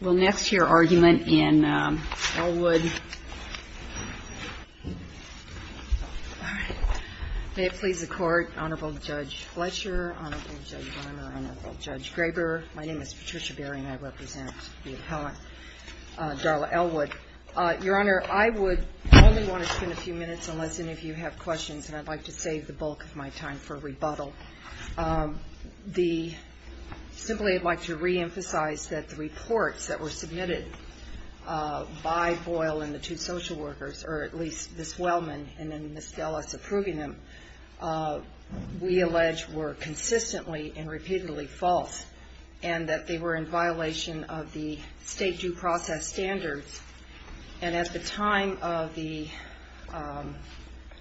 Well, next, your argument in Elwood. May it please the court, Honorable Judge Fletcher, Honorable Judge Bremer, Honorable Judge Graber. My name is Patricia Berry, and I represent the appellant, Darla Elwood. Your Honor, I would only want to spend a few minutes, unless any of you have questions, and I'd like to save the bulk of my time for rebuttal. I'd simply like to reemphasize that the reports that were submitted by Boyle and the two social workers, or at least Ms. Wellman and then Ms. Dulles approving them, we allege were consistently and repeatedly false, and that they were in violation of the state due process standards. And at the time of the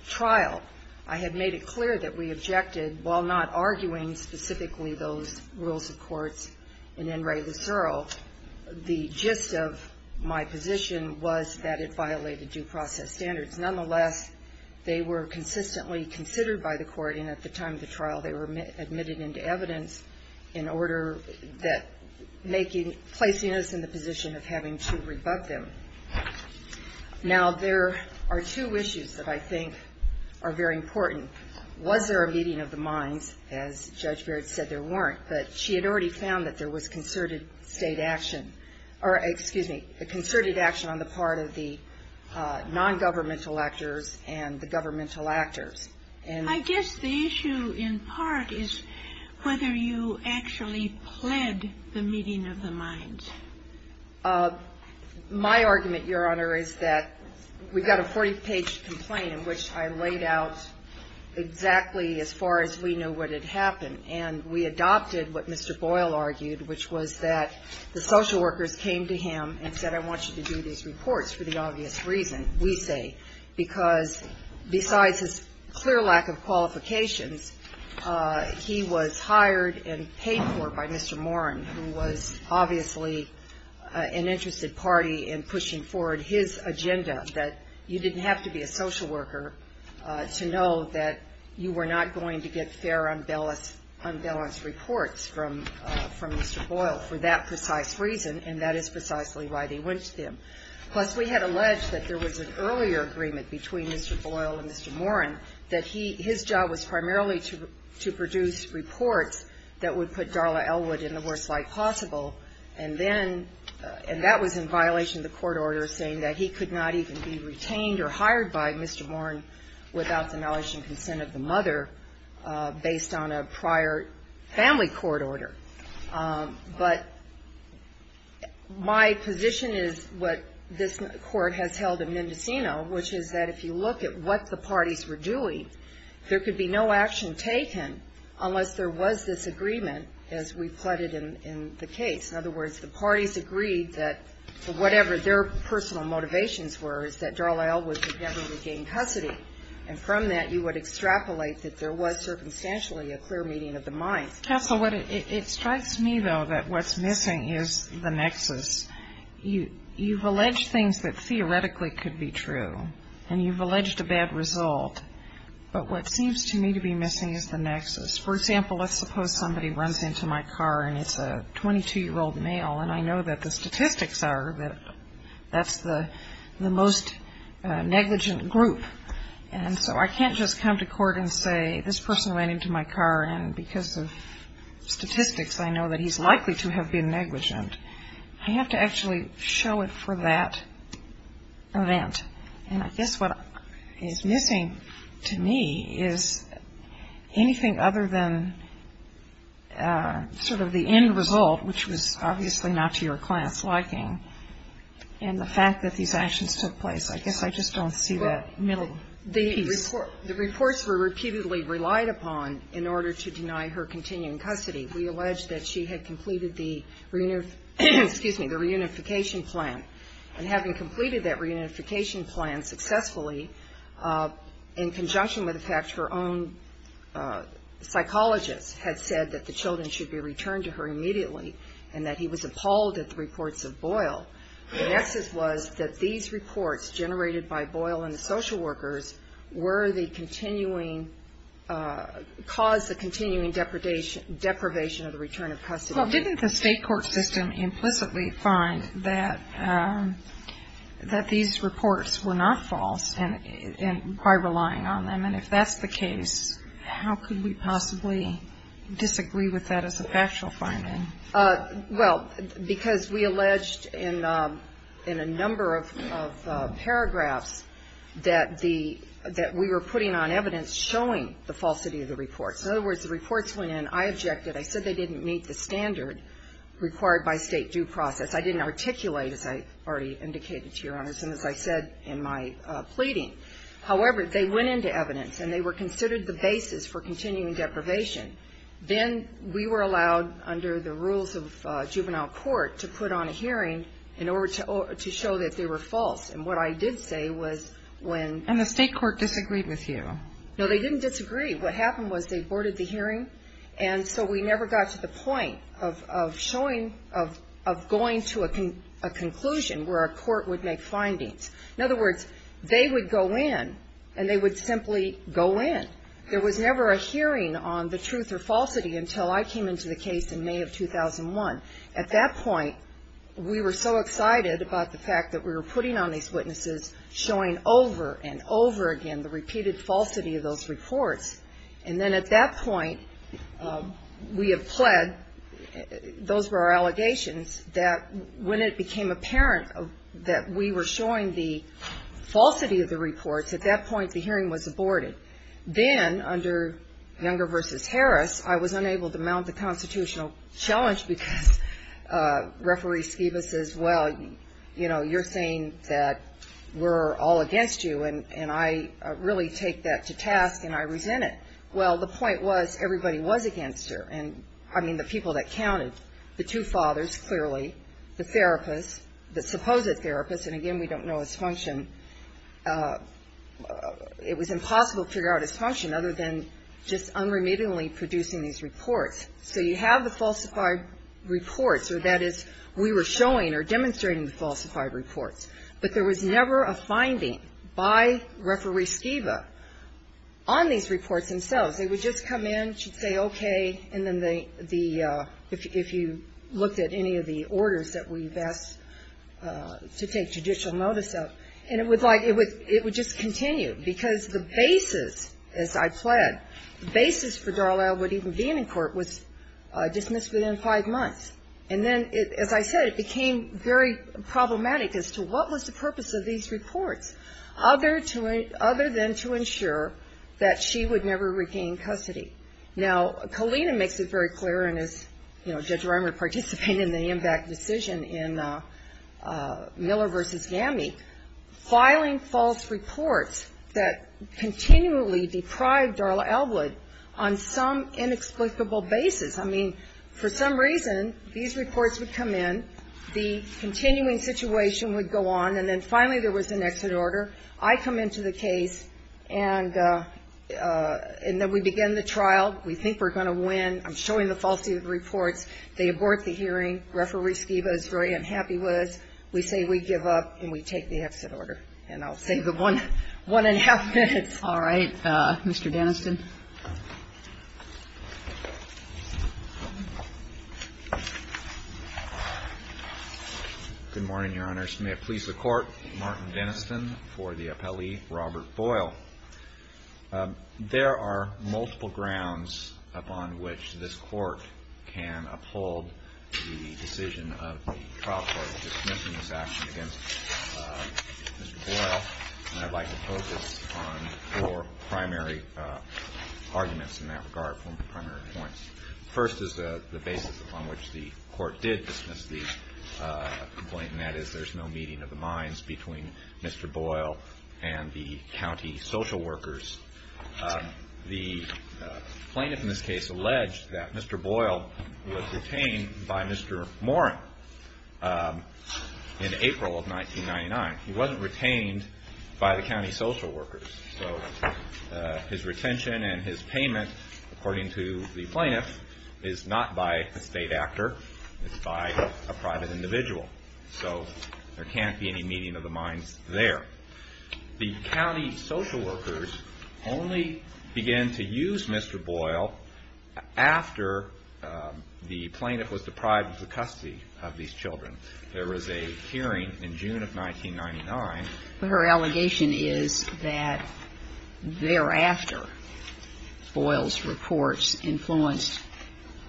trial, I had made it clear that we objected, while not arguing specifically those rules of courts in In re Lucero, the gist of my position was that it violated due process standards. Nonetheless, they were consistently considered by the court, and at the time of the trial, they were admitted into evidence in order that placing us in the position of having to rebut them. Now, there are two issues that I think are very important. Was there a meeting of the minds? As Judge Barrett said, there weren't. But she had already found that there was concerted state action, or excuse me, a concerted action on the part of the nongovernmental actors and the governmental actors. And I guess the issue in part is whether you actually pled the meeting of the minds. My argument, Your Honor, is that we got a 40-page complaint in which I laid out exactly as far as we knew what had happened, and we adopted what Mr. Boyle argued, which was that the social workers came to him and said, I want you to do these reports for the obvious reason, we say, because besides his clear lack of qualifications, he was hired and paid for by Mr. Moran, who was obviously an interested party in pushing forward his agenda, that you didn't have to be a social worker to know that you were not going to get fair, unbalanced reports from Mr. Boyle for that precise reason. And that is precisely why they went to him. Plus, we had alleged that there was an earlier agreement between Mr. Boyle and Mr. Moran, that his job was primarily to produce reports that would put Darla Elwood in the worst light possible. And then, and that was in violation of the court order saying that he could not even be retained or hired by Mr. Moran without the knowledge and consent of the mother based on a prior family court order. But my position is what this court has held in Mendocino, which is that if you look at what the parties were doing, there could be no action taken unless there was this agreement as we've plotted in the case. In other words, the parties agreed that whatever their personal motivations were is that Darla Elwood would never regain custody. And from that, you would extrapolate that there was circumstantially a clear meeting of the mind. Counsel, it strikes me, though, that what's missing is the nexus. You've alleged things that theoretically could be true, and you've alleged a bad result. But what seems to me to be missing is the nexus. For example, let's suppose somebody runs into my car, and it's a 22-year-old male. And I know that the statistics are that that's the most negligent group. And so I can't just come to court and say, this person ran into my car, and because of statistics, I know that he's likely to have been negligent. I have to actually show it for that event. And I guess what is missing to me is anything other than sort of the end result, which was obviously not to your client's liking, and the fact that these actions took place. I guess I just don't see that middle piece. The reports were repeatedly relied upon in order to deny her continuing custody. We allege that she had completed the, excuse me, the reunification plan. And having completed that reunification plan successfully, in conjunction with the fact her own psychologist had said that the children should be returned to her immediately, and that he was appalled at the reports of Boyle. The nexus was that these reports, generated by Boyle and the social workers, were the continuing, caused the continuing deprivation of the return of custody. Well, didn't the state court system implicitly find that that these reports were not false, and by relying on them? And if that's the case, how could we possibly disagree with that as a factual finding? Well, because we alleged in a number of paragraphs that we were putting on evidence showing the falsity of the reports. In other words, the reports went in, I objected. I said they didn't meet the standard required by state due process. I didn't articulate, as I already indicated to your honors, and as I said in my pleading. However, they went into evidence, and they were considered the basis for continuing deprivation. Then we were allowed, under the rules of juvenile court, to put on a hearing in order to show that they were false. And what I did say was when- And the state court disagreed with you. No, they didn't disagree. What happened was they boarded the hearing, and so we never got to the point of showing, of going to a conclusion where a court would make findings. In other words, they would go in, and they would simply go in. There was never a hearing on the truth or falsity until I came into the case in May of 2001. At that point, we were so excited about the fact that we were putting on these witnesses, showing over and over again the repeated falsity of those reports. And then at that point, we have pled, those were our allegations, that when it became apparent that we were showing the falsity of the reports, at that point the hearing was aborted. Then, under Younger versus Harris, I was unable to mount the constitutional challenge because Referee Skiba says, well, you know, you're saying that we're all against you, and I really take that to task, and I resent it. Well, the point was, everybody was against her. And, I mean, the people that counted, the two fathers, clearly, the therapist, the supposed therapist, and again, we don't know his function. It was impossible to figure out his function other than just unremittingly producing these reports. So you have the falsified reports, or that is, we were showing or demonstrating the falsified reports. But there was never a finding by Referee Skiba on these reports themselves. They would just come in, she'd say okay, and then the, if you looked at any of the orders that we've asked to take judicial notice of, and it would like, it would just continue. Because the basis, as I've said, the basis for Darlisle would even be in court was dismissed within five months. And then, as I said, it became very problematic as to what was the purpose of these reports, other to, other than to ensure that she would never regain custody. Now, Kalina makes it very clear, and as, you know, Judge Rimer participated in the AMVAC decision in Miller versus GAMI. Filing false reports that continually deprived Darla Elwood on some inexplicable basis. I mean, for some reason, these reports would come in, the continuing situation would go on, and then finally there was an exit order. I come into the case, and then we begin the trial. We think we're going to win. I'm showing the falsified reports. They abort the hearing. Referee Skiba is very unhappy with us. We say we give up, and we take the exit order. And I'll save the one, one and a half minutes. All right, Mr. Deniston. Good morning, Your Honors. May it please the Court, Martin Deniston for the appellee, Robert Boyle. There are multiple grounds upon which this Court can uphold the decision of the trial court dismissing this action against Mr. Boyle. And I'd like to focus on four primary arguments in that regard, four primary points. First is the basis upon which the Court did dismiss the complaint, and that is there's no meeting of the minds between Mr. Boyle and the county social workers. The plaintiff in this case alleged that Mr. Boyle was retained by Mr. Morin in April of 1999. He wasn't retained by the county social workers. So his retention and his payment, according to the plaintiff, is not by a state actor. It's by a private individual. So there can't be any meeting of the minds there. The county social workers only began to use Mr. Boyle after the plaintiff was deprived of the custody of these children. There was a hearing in June of 1999. But her allegation is that thereafter, Boyle's reports influenced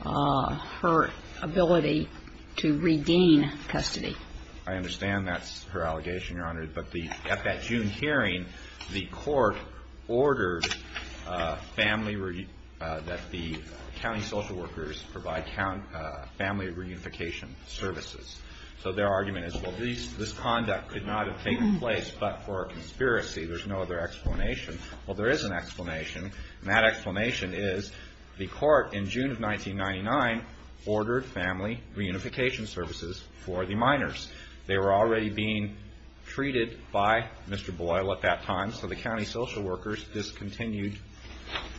her ability to redeem custody. I understand that's her allegation, Your Honor. But at that June hearing, the Court ordered that the county social workers provide family reunification services. So their argument is, well, this conduct could not have taken place, but for a conspiracy, there's no other explanation. Well, there is an explanation, and that explanation is the Court, in June of 1999, ordered family reunification services for the minors. They were already being treated by Mr. Boyle at that time, so the county social workers discontinued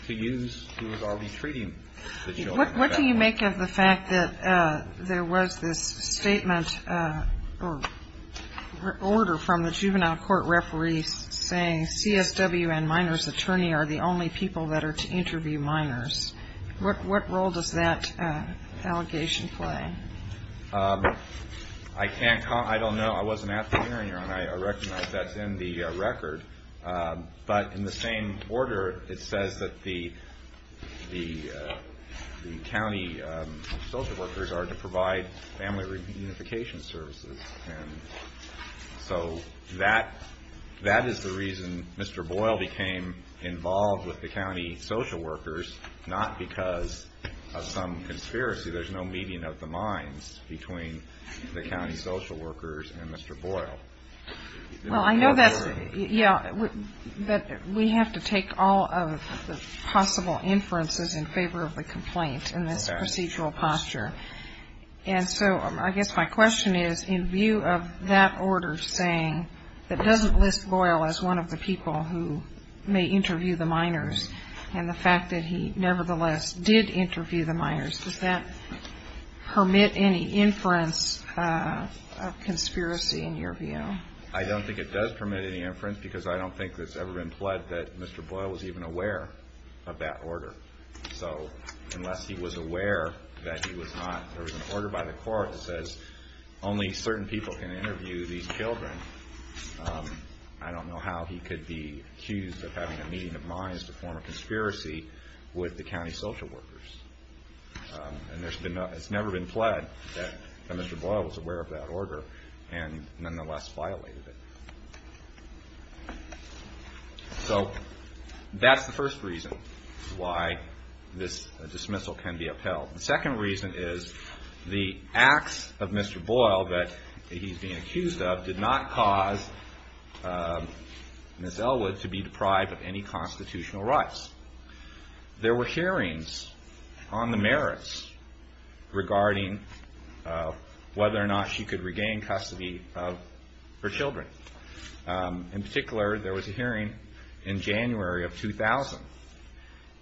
to use who was already treating the children. What do you make of the fact that there was this statement or order from the juvenile court referees saying CSW and minors attorney are the only people that are to interview minors? What role does that allegation play? I can't comment. I don't know. I wasn't at the hearing, Your Honor, and I recognize that's in the record. But in the same order, it says that the county social workers are to provide family reunification services, and so that is the reason Mr. Boyle became involved with the county social workers, not because of some conspiracy. There's no meeting of the minds between the county social workers and Mr. Boyle. Well, I know that's, yeah, but we have to take all of the possible inferences in favor of the complaint in this procedural posture. And so I guess my question is, in view of that order saying that doesn't list Boyle as one of the people who may interview the minors, and the fact that he nevertheless did interview the minors, does that permit any inference of conspiracy in your view? I don't think it does permit any inference, because I don't think it's ever been pled that Mr. Boyle was even aware of that order. So, unless he was aware that he was not, there was an order by the court that says only certain people can interview these children. I don't know how he could be accused of having a meeting of minds to form a conspiracy with the county social workers. And there's been, it's never been pled that Mr. Boyle was aware of that order and nonetheless violated it. So, that's the first reason why this dismissal can be upheld. The second reason is the acts of Mr. Boyle that he's being accused of did not cause Ms. Elwood to be deprived of any constitutional rights. There were hearings on the merits regarding whether or not she could regain custody of her children. In particular, there was a hearing in January of 2000.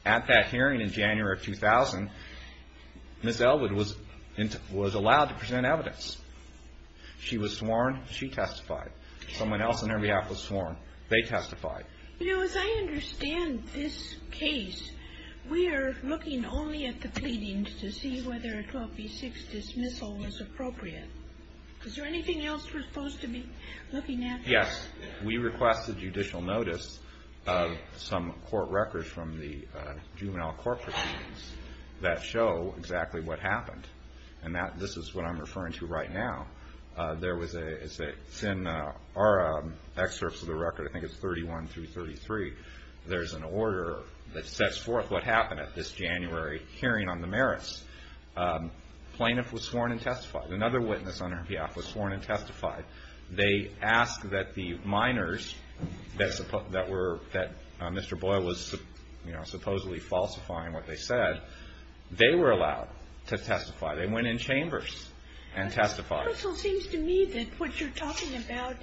At that hearing in January of 2000, Ms. Elwood was allowed to present evidence. She was sworn, she testified. Someone else on her behalf was sworn, they testified. You know, as I understand this case, we are looking only at the pleadings to see whether a 12B6 dismissal was appropriate. Is there anything else we're supposed to be looking at? Yes. We requested judicial notice of some court records from the juvenile court proceedings that show exactly what happened. And that, this is what I'm referring to right now. There was a, it's in our excerpts of the record, I think it's 31 through 33. There's an order that sets forth what happened at this January hearing on the merits. Plaintiff was sworn and testified. Another witness on her behalf was sworn and testified. They asked that the minors that Mr. Boyle was supposedly falsifying what they said, they were allowed to testify. They went in chambers and testified. It also seems to me that what you're talking about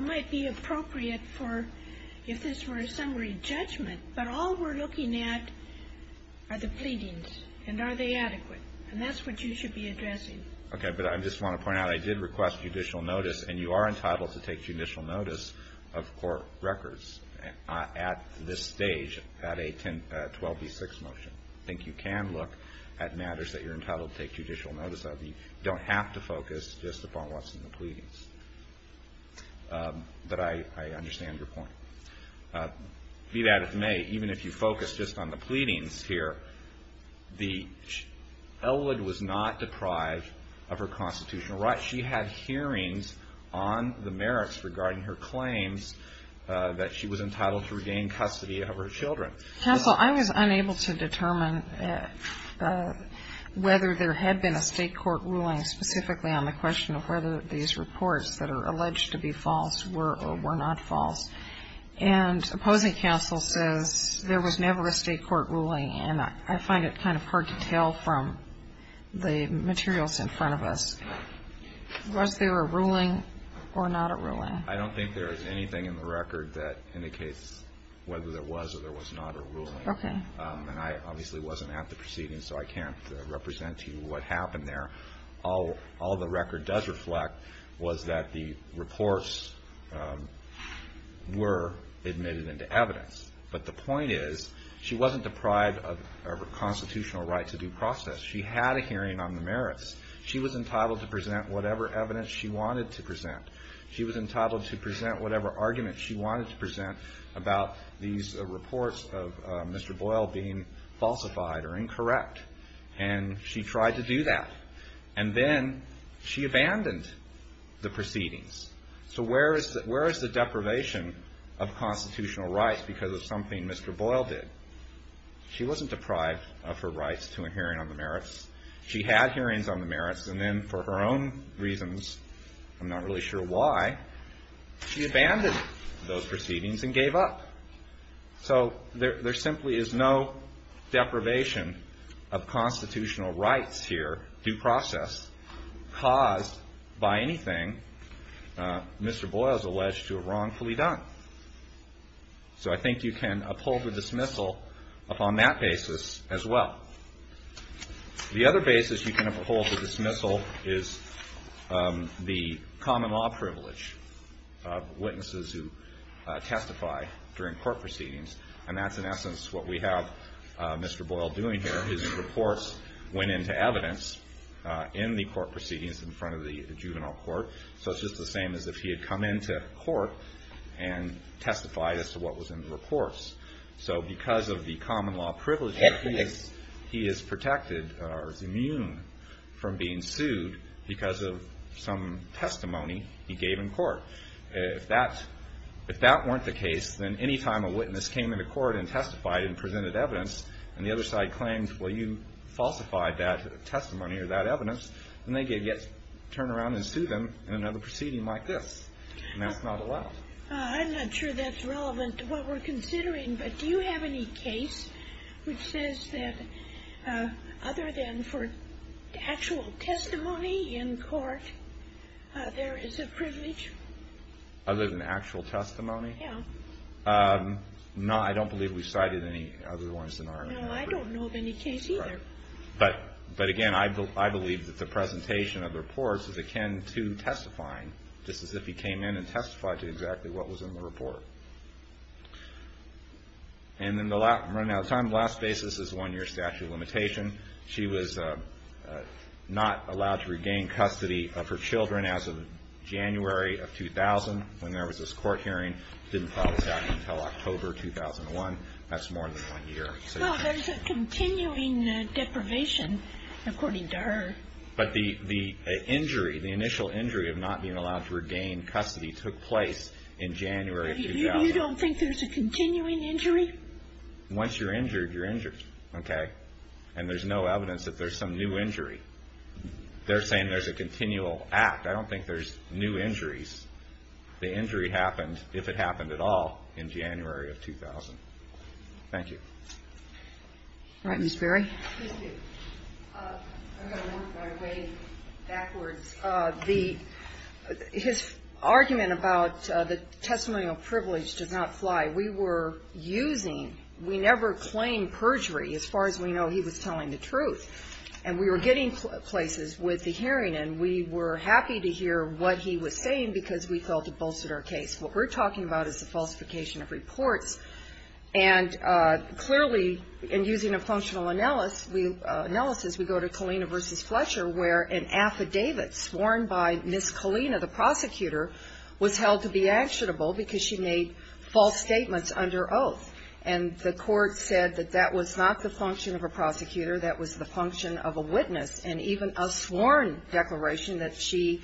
might be appropriate for, if this were a summary judgment. But all we're looking at are the pleadings, and are they adequate? And that's what you should be addressing. Okay, but I just want to point out, I did request judicial notice. And you are entitled to take judicial notice of court records at this stage, at a 12B6 motion. I think you can look at matters that you're entitled to take judicial notice of. You don't have to focus just upon what's in the pleadings. But I understand your point. Be that as it may, even if you focus just on the pleadings here, the Eldred was not deprived of her constitutional rights. She had hearings on the merits regarding her claims that she was entitled to regain custody of her children. Counsel, I was unable to determine whether there had been a state court ruling specifically on the question of whether these reports that are alleged to be false were or were not false. And opposing counsel says there was never a state court ruling, and I find it kind of hard to tell from the materials in front of us. Was there a ruling or not a ruling? I don't think there is anything in the record that indicates whether there was or there was not a ruling. Okay. And I obviously wasn't at the proceedings, so I can't represent to you what happened there. All the record does reflect was that the reports were admitted into evidence. But the point is, she wasn't deprived of her constitutional right to due process. She had a hearing on the merits. She was entitled to present whatever evidence she wanted to present. She was entitled to present whatever argument she wanted to present about these reports of Mr. Boyle being falsified or incorrect. And she tried to do that. And then she abandoned the proceedings. So where is the deprivation of constitutional rights because of something Mr. Boyle did? She wasn't deprived of her rights to a hearing on the merits. She had hearings on the merits. And then for her own reasons, I'm not really sure why, she abandoned those proceedings and gave up. So there simply is no deprivation of constitutional rights here, due process, caused by anything Mr. Boyle is alleged to have wrongfully done. So I think you can uphold the dismissal upon that basis as well. The other basis you can uphold the dismissal is the common law privilege of witnesses who testify during court proceedings. And that's in essence what we have Mr. Boyle doing here. His reports went into evidence in the court proceedings in front of the juvenile court. So it's just the same as if he had come into court and testified as to what was in the reports. So because of the common law privilege, he is protected or is immune from being sued because of some testimony he gave in court. If that weren't the case, then any time a witness came into court and testified and presented evidence and the other side claimed, well, you falsified that testimony or that evidence, then they could turn around and sue them in another proceeding like this. And that's not allowed. I'm not sure that's relevant to what we're considering. But do you have any case which says that other than for actual testimony in court, there is a privilege? Other than actual testimony? Yeah. No, I don't believe we cited any other ones in our report. No, I don't know of any case either. But again, I believe that the presentation of the reports is akin to testifying, just as if he came in and testified to exactly what was in the report. And then running out of time, last basis is one year statute of limitation. She was not allowed to regain custody of her children as of January of 2000, when there was this court hearing. Didn't file this out until October 2001. That's more than one year. Well, there's a continuing deprivation, according to her. But the injury, the initial injury of not being allowed to regain custody took place in January 2000. You don't think there's a continuing injury? Once you're injured, you're injured, okay? And there's no evidence that there's some new injury. They're saying there's a continual act. I don't think there's new injuries. The injury happened, if it happened at all, in January of 2000. Thank you. All right, Ms. Berry? Thank you. I'm going to walk my way backwards. The, his argument about the testimonial privilege does not fly. We were using, we never claimed perjury, as far as we know he was telling the truth. And we were getting places with the hearing, and we were happy to hear what he was saying, because we felt it bolstered our case. What we're talking about is the falsification of reports. And clearly, in using a functional analysis, we go to Kalina versus Fletcher, where an affidavit sworn by Ms. Kalina, the prosecutor, was held to be actionable because she made false statements under oath. And the court said that that was not the function of a prosecutor, that was the function of a witness. And even a sworn declaration that she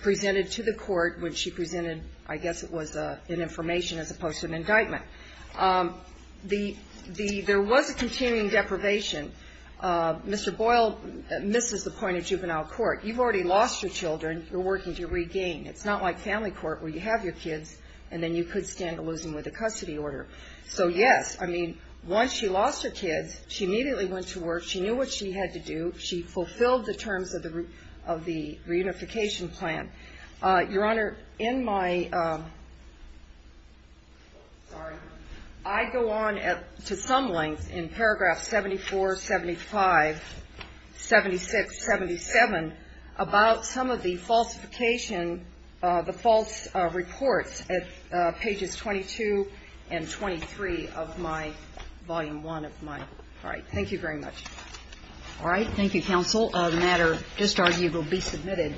presented to the court, when she presented, I guess it was an information as opposed to an indictment. The, there was a continuing deprivation. Mr. Boyle misses the point of juvenile court. You've already lost your children, you're working to regain. It's not like family court, where you have your kids, and then you could stand to lose them with a custody order. So yes, I mean, once she lost her kids, she immediately went to work. She knew what she had to do. She fulfilled the terms of the reunification plan. Your Honor, in my, sorry. I go on to some length in paragraph 74, 75, 76, 77, about some of the falsification, the false reports at pages 22 and 23 of my volume one of my. All right, thank you very much. All right, thank you, counsel. A matter just argued will be submitted.